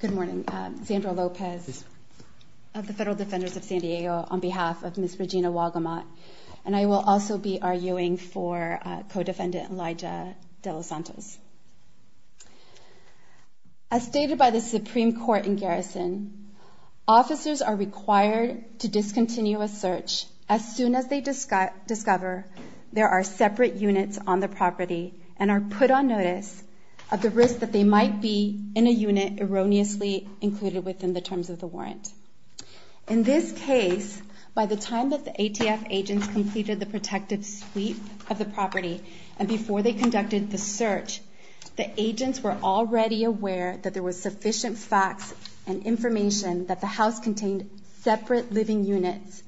Good morning. Zandra Lopez of the Federal Defenders of San Diego on behalf of Ms. Regina Wagamott. And I will also be arguing for co-defendant Elijah Delossantos. As stated by the Supreme Court in garrison, officers are required to discontinue a search as soon as they discover there are separate units on the property and are put on notice of the risk that they might be in a unit erroneously included within the terms of the warrant. In this case, by the time that the ATF agents completed the protective sweep of the property and before they conducted the search, the agents were already aware that there was sufficient facts and information that the house contained separate living units,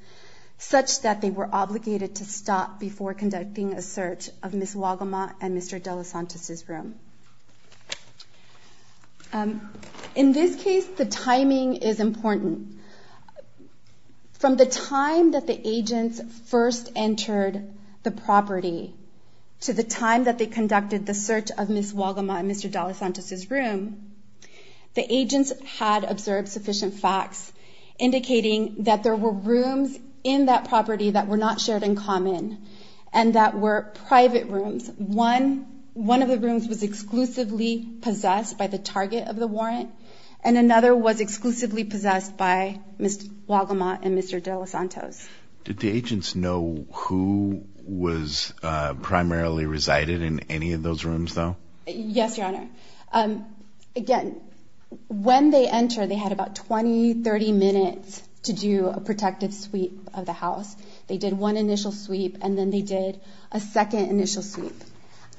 such that they were obligated to stop before conducting a search of Ms. Wagamott and Mr. Delossantos' room. In this case, the timing is important. From the time that the agents first entered the property to the time that they conducted the search of Ms. Wagamott and Mr. Delossantos' room, the agents had observed sufficient facts indicating that there were rooms in that property that were not shared in common and that were private rooms. One of the rooms was exclusively possessed by the target of the warrant and another was exclusively possessed by Ms. Wagamott and Mr. Delossantos. Did the agents know who primarily resided in any of those rooms, though? Yes, Your Honor. Again, when they entered, they had about 20-30 minutes to do a protective sweep of the house. They did one initial sweep and then they did a second initial sweep.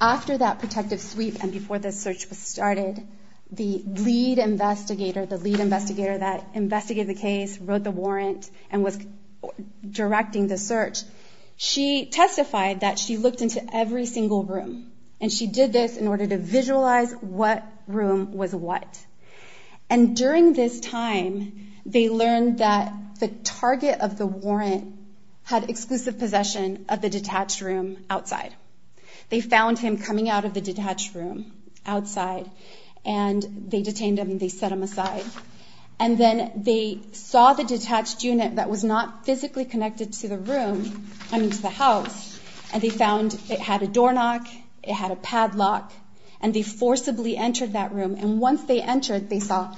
After that protective sweep and before the search was started, the lead investigator that investigated the case wrote the warrant and was directing the search. She testified that she looked into every single room and she did this in order to visualize what room was what. During this time, they learned that the target of the warrant had exclusive possession of the detached room outside. They found him coming out of the detached room outside and they detained him and they set him aside. Then they saw the detached unit that was not physically connected to the room, I mean to the house, and they found it had a doorknock, it had a padlock, and they forcibly entered that room. Once they entered, they saw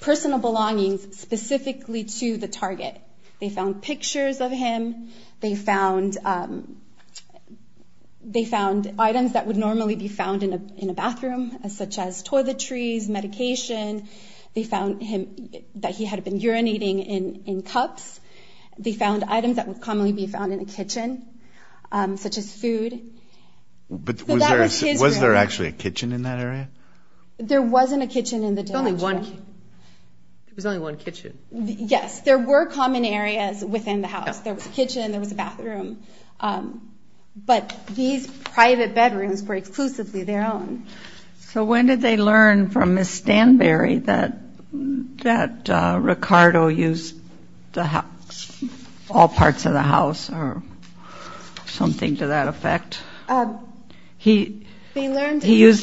personal belongings specifically to the target. They found pictures of him. They found items that would normally be found in a bathroom such as toiletries, medication. They found that he had been urinating in cups. They found items that would commonly be found in a kitchen such as food. But was there actually a kitchen in that area? There wasn't a kitchen in the detached room. There was only one kitchen. Yes, there were common areas within the house. There was a kitchen, there was a bathroom. But these private bedrooms were exclusively their own. So when did they learn from Ms. Stanberry that Ricardo used all parts of the house or something to that effect? He used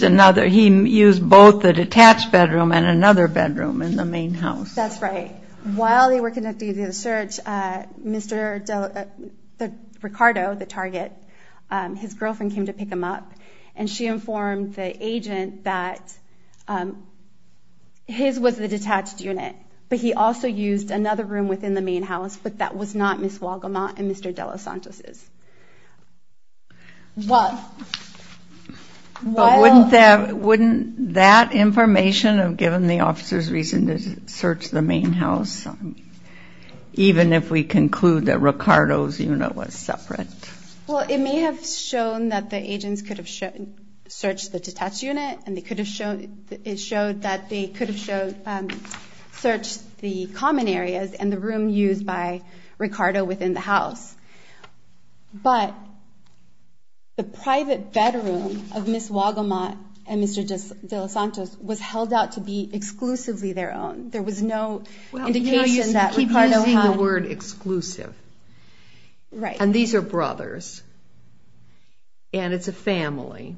both the detached bedroom and another bedroom in the main house. That's right. While they were conducting the search, Mr. Ricardo, the target, his girlfriend came to pick him up, and she informed the agent that his was the detached unit, but he also used another room within the main house, but that was not Ms. Wagemont and Mr. DelaSantis'. But wouldn't that information have given the officers reason to search the main house, even if we conclude that Ricardo's unit was separate? Well, it may have shown that the agents could have searched the detached unit, and it showed that they could have searched the common areas and the room used by Ricardo within the house. But the private bedroom of Ms. Wagemont and Mr. DelaSantis was held out to be exclusively their own. There was no indication that Ricardo had... Well, you keep using the word exclusive. And these are brothers, and it's a family.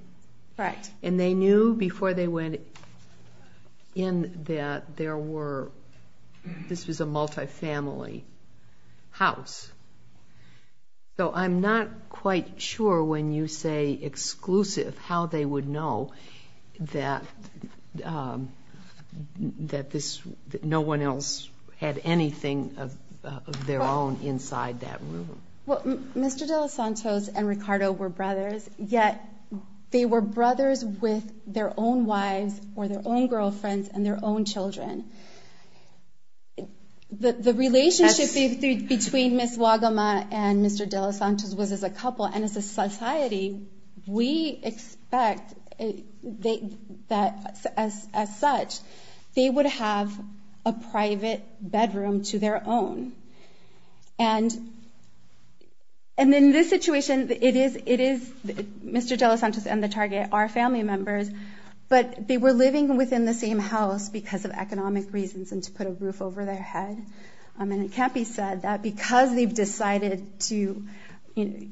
And they knew before they went in that this was a multifamily house. So I'm not quite sure when you say exclusive how they would know that no one else had anything of their own inside that room. Well, Mr. DelaSantis and Ricardo were brothers, yet they were brothers with their own wives or their own girlfriends and their own children. The relationship between Ms. Wagemont and Mr. DelaSantis was as a couple, and as a society, we expect that as such, they would have a private bedroom to their own. And in this situation, Mr. DelaSantis and the target are family members, but they were living within the same house because of economic reasons and to put a roof over their head. And it can't be said that because they've decided to make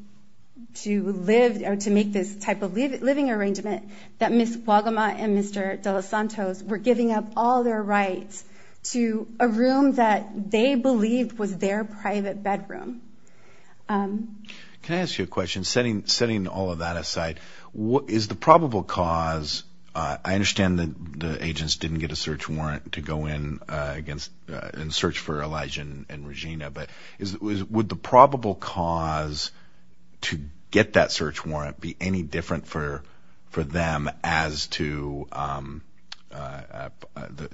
this type of living arrangement that Ms. Wagemont and Mr. DelaSantis were giving up all their rights to a room that they believed was their private bedroom. Can I ask you a question, setting all of that aside? I understand that the agents didn't get a search warrant to go in and search for Elijah and Regina, but would the probable cause to get that search warrant be any different for them as to the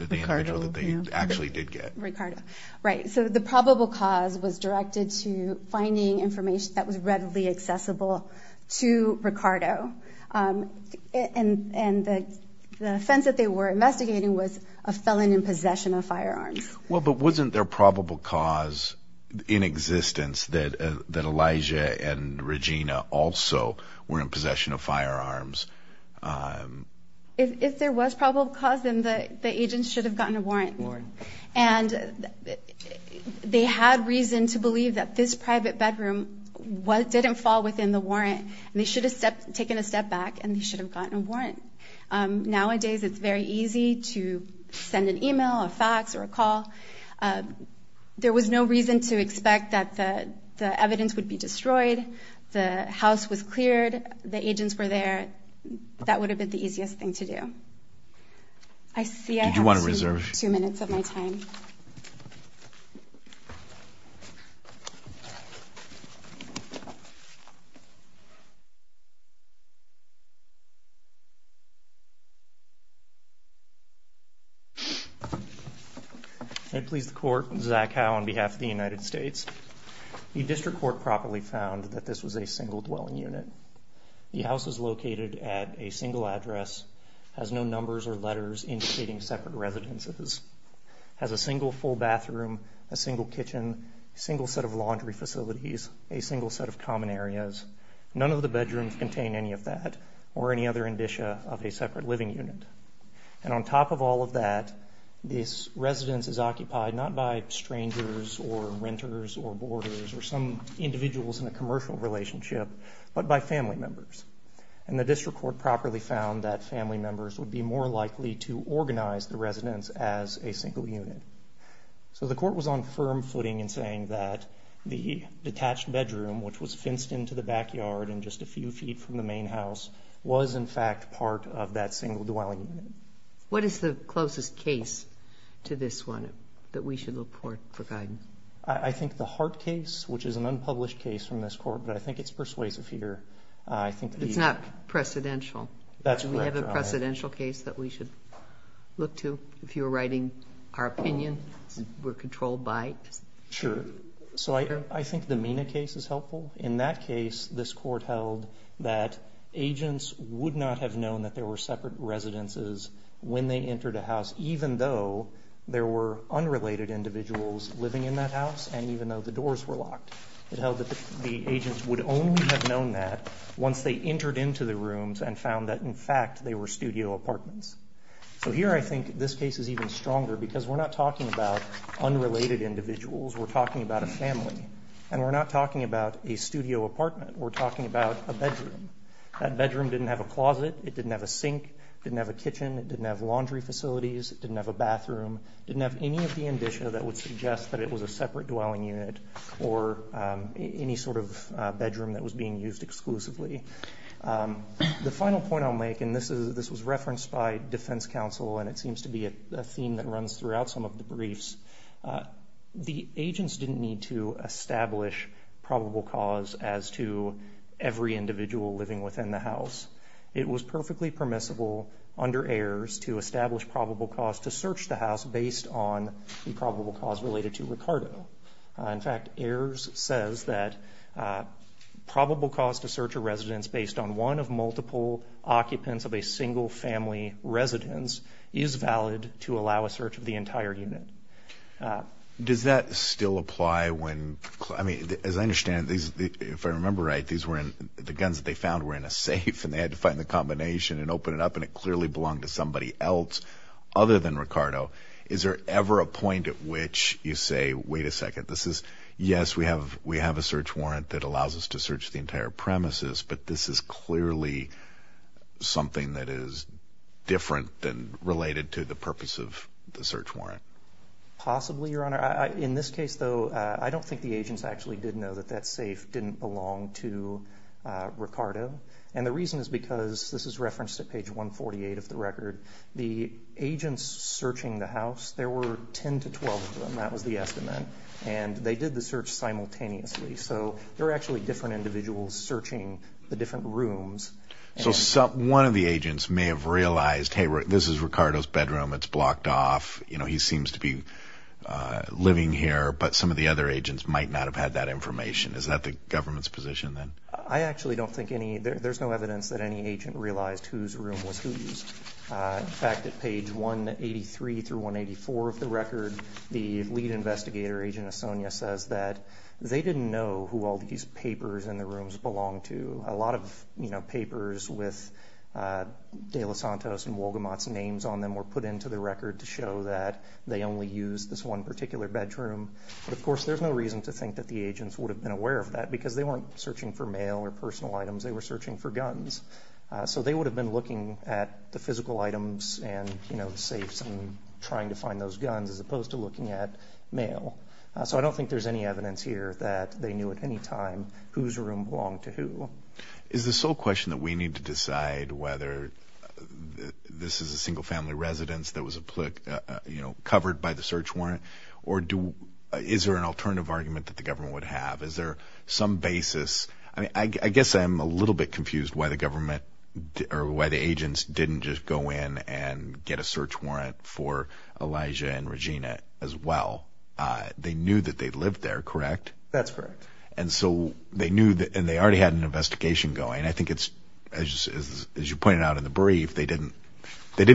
individual that they actually did get? Right. So the probable cause was directed to finding information that was readily accessible to Ricardo. And the offense that they were investigating was a felon in possession of firearms. Well, but wasn't there a probable cause in existence that Elijah and Regina also were in possession of firearms? If there was probable cause, then the agents should have gotten a warrant. And they had reason to believe that this private bedroom didn't fall within the warrant, and they should have taken a step back and they should have gotten a warrant. Nowadays it's very easy to send an email, a fax, or a call. There was no reason to expect that the evidence would be destroyed. The house was cleared. The agents were there. That would have been the easiest thing to do. I see I have two minutes of my time. May it please the Court, this is Zach Howe on behalf of the United States. The District Court properly found that this was a single dwelling unit. The house is located at a single address, has no numbers or letters indicating separate residences, has a single full bathroom, a single kitchen, a single set of laundry facilities, a single set of common areas. None of the bedrooms contain any of that or any other indicia of a separate living unit. And on top of all of that, this residence is occupied not by strangers or renters or boarders or some individuals in a commercial relationship, but by family members. And the District Court properly found that family members would be more likely to organize the residence as a single unit. So the Court was on firm footing in saying that the detached bedroom, which was fenced into the backyard and just a few feet from the main house, was in fact part of that single dwelling unit. What is the closest case to this one that we should look for guidance? I think the Hart case, which is an unpublished case from this Court, but I think it's persuasive here. It's not precedential. Do we have a precedential case that we should look to if you're writing our opinion? We're controlled by... I think the Mina case is helpful. In that case, this Court held that agents would not have known that there were separate residences when they entered a house, even though there were unrelated individuals living in that house and even though the doors were locked. It held that the agents would only have known that once they entered into the rooms and found that, in fact, they were studio apartments. So here I think this case is even stronger because we're not talking about unrelated individuals. We're talking about a family, and we're not talking about a studio apartment. We're talking about a bedroom. That bedroom didn't have a closet. It didn't have a sink. It didn't have a kitchen. It didn't have laundry facilities. It didn't have a bathroom. It didn't have any of the indicia that would suggest that it was a separate dwelling unit or any sort of bedroom that was being used exclusively. The final point I'll make, and this was referenced by defense counsel, and it seems to be a theme that runs throughout some of the briefs, the agents didn't need to establish probable cause as to every individual living within the house. It was perfectly permissible under Ayers to establish probable cause to search the house based on the probable cause related to Ricardo. In fact, Ayers says that probable cause to search a residence based on one of multiple occupants of a single family residence is valid to allow a search of the entire unit. Does that still apply when, I mean, as I understand, if I remember right, the guns that they found were in a safe, and they had to find the combination and open it up, and it clearly belonged to somebody else other than Ricardo. Is there ever a point at which you say, wait a second, this is, yes, we have a search warrant that allows us to search the entire premises, but this is clearly something that is different than related to the purpose of the search warrant? Possibly, Your Honor. In this case, though, I don't think the agents actually did know that that safe didn't belong to Ricardo, and the reason is because, this is referenced at page 148 of the record, the agents searching the house, there were 10 to 12 of them, that was the estimate, and they did the search simultaneously. So there were actually different individuals searching the different rooms. So one of the agents may have realized, hey, this is Ricardo's bedroom, it's blocked off, he seems to be living here, but some of the other agents might not have had that information. Is that the government's position then? I actually don't think any, there's no evidence that any agent realized whose room was whose. In fact, at page 183 through 184 of the record, the lead investigator, Agent Esonia, says that they didn't know who all these papers in the rooms belonged to. A lot of papers with De Los Santos and Wolgamott's names on them were put into the record to show that they only used this one particular bedroom. But of course, there's no reason to think that the agents would have been aware of that because they weren't searching for mail or personal items, they were searching for guns. So they would have been looking at the physical items and the safes and trying to find those guns as opposed to looking at mail. So I don't think there's any evidence here that they knew at any time whose room belonged to who. Is the sole question that we need to decide whether this is a single-family residence that was covered by the search warrant or is there an alternative argument that the government would have? Is there some basis? I guess I'm a little bit confused why the government or why the agents didn't just go in and get a search warrant for Elijah and Regina as well. They knew that they lived there, correct? That's correct. And so they knew, and they already had an investigation going. I think it's, as you pointed out in the brief, they didn't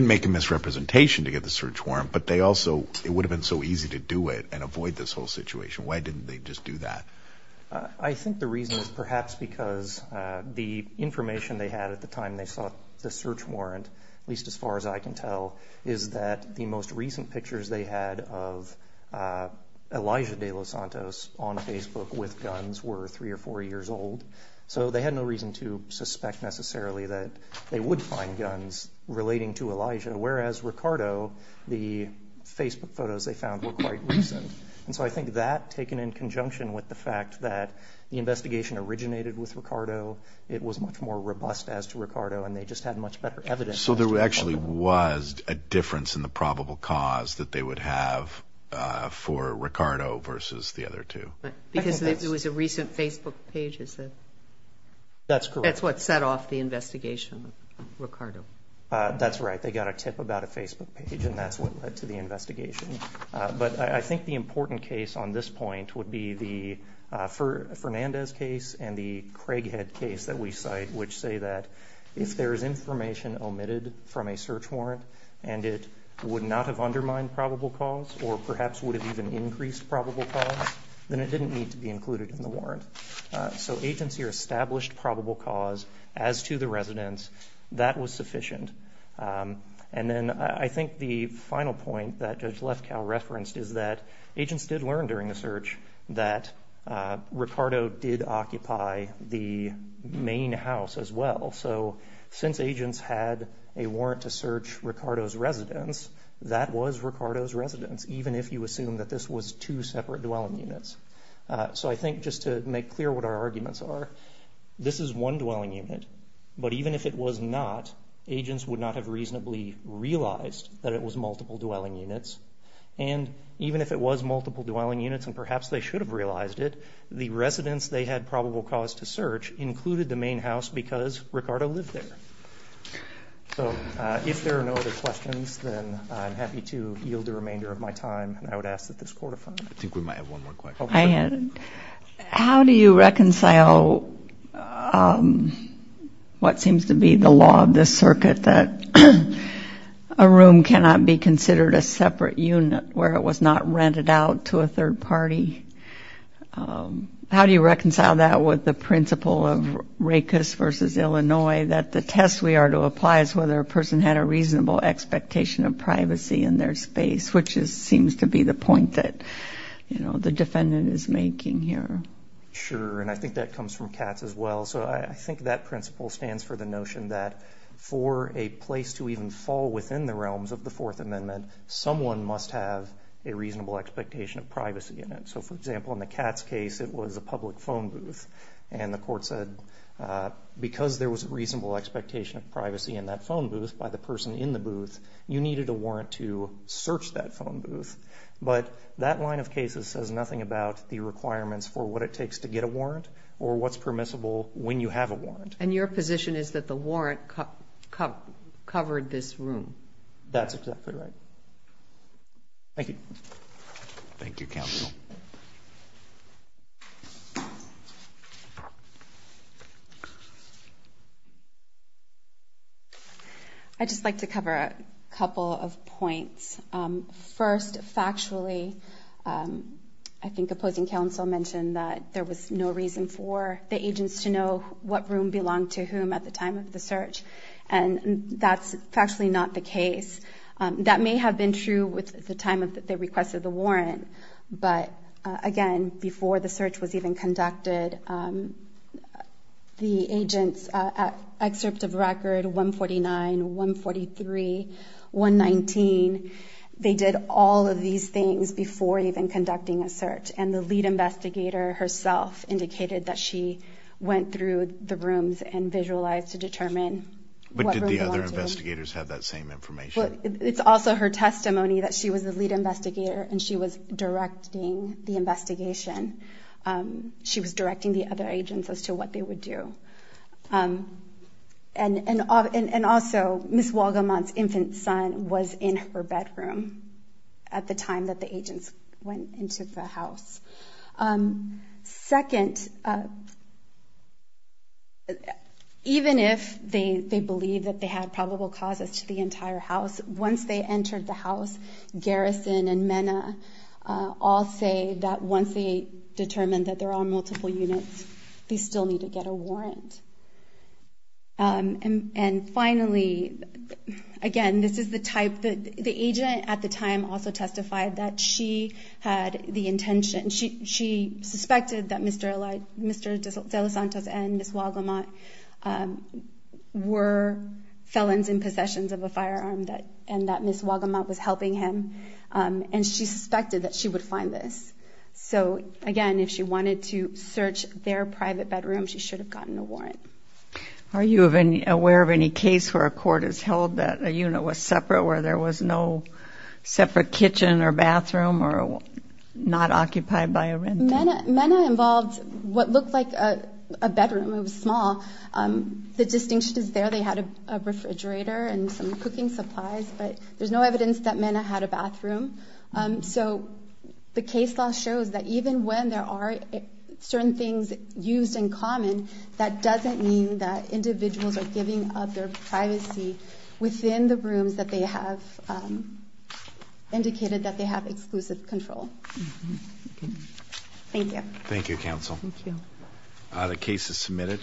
make a misrepresentation to get the search warrant, but they also, it would have been so easy to do it and avoid this whole situation. Why didn't they just do that? I think the reason is perhaps because the information they had at the time they sought the search warrant, at least as far as I can tell, is that the most recent pictures they had of Elijah De Los Santos on Facebook with guns were three or four years old. So they had no reason to suspect necessarily that they would find guns relating to Elijah, whereas Ricardo, the Facebook photos they found were quite recent. And so I think that, taken in conjunction with the fact that the investigation originated with Ricardo, it was much more robust as to Ricardo, and they just had much better evidence. So there actually was a difference in the probable cause that they would have for Ricardo versus the other two. Because it was a recent Facebook page, is it? That's correct. That's what set off the investigation of Ricardo. That's right. They got a tip about a Facebook page, and that's what led to the investigation. But I think the important case on this point would be the Fernandez case and the Craighead case that we cite, which say that if there is information omitted from a search warrant and it would not have undermined probable cause or perhaps would have even increased probable cause, then it didn't need to be included in the warrant. So agency or established probable cause as to the residence, that was sufficient. And then I think the final point that Judge Lefkow referenced is that agents did learn during the search that Ricardo did occupy the main house as well. So since agents had a warrant to search Ricardo's residence, that was Ricardo's residence, even if you assume that this was two separate dwelling units. So I think just to make clear what our arguments are, this is one dwelling unit, but even if it was not, agents would not have reasonably realized that it was multiple dwelling units. And even if it was multiple dwelling units and perhaps they should have realized it, the residence they had probable cause to search included the main house because Ricardo lived there. So if there are no other questions, then I'm happy to yield the remainder of my time, and I would ask that this court affirm. I think we might have one more question. How do you reconcile what seems to be the law of this circuit, that a room cannot be considered a separate unit where it was not rented out to a third party? How do you reconcile that with the principle of RACUS versus Illinois, that the test we are to apply is whether a person had a reasonable expectation of privacy in their space, which seems to be the point that the defendant is making here? Sure, and I think that comes from Katz as well. So I think that principle stands for the notion that for a place to even fall within the realms of the Fourth Amendment, someone must have a reasonable expectation of privacy in it. So, for example, in the Katz case, it was a public phone booth, and the court said because there was a reasonable expectation of privacy in that phone booth by the person in the booth, you needed a warrant to search that phone booth. But that line of cases says nothing about the requirements for what it takes to get a warrant or what's permissible when you have a warrant. And your position is that the warrant covered this room? That's exactly right. Thank you. Thank you, counsel. Thank you. I'd just like to cover a couple of points. First, factually, I think opposing counsel mentioned that there was no reason for the agents to know what room belonged to whom at the time of the search, and that's factually not the case. That may have been true with the time that they requested the warrant, but again, before the search was even conducted, the agents' excerpt of record 149, 143, 119, they did all of these things before even conducting a search. And the lead investigator herself indicated that she went through the rooms Well, it's also her testimony that she was the lead investigator and she was directing the investigation. She was directing the other agents as to what they would do. And also, Ms. Walgemont's infant son was in her bedroom at the time that the agents went into the house. Second, even if they believe that they had probable causes to the entire house, once they entered the house, Garrison and Mena all say that once they determine that there are multiple units, they still need to get a warrant. And finally, again, this is the type that the agent at the time also testified that she had the intention, she suspected that Mr. De Los Santos and Ms. Walgemont were felons in possession of a firearm and that Ms. Walgemont was helping him, and she suspected that she would find this. So again, if she wanted to search their private bedroom, she should have gotten a warrant. Are you aware of any case where a court has held that a unit was separate, where there was no separate kitchen or bathroom or not occupied by a rental? Mena involved what looked like a bedroom. It was small. The distinction is there they had a refrigerator and some cooking supplies, but there's no evidence that Mena had a bathroom. So the case law shows that even when there are certain things used in common, that doesn't mean that individuals are giving up their privacy within the rooms that they have indicated that they have exclusive control. Thank you. Thank you, Counsel. Thank you. The case is submitted.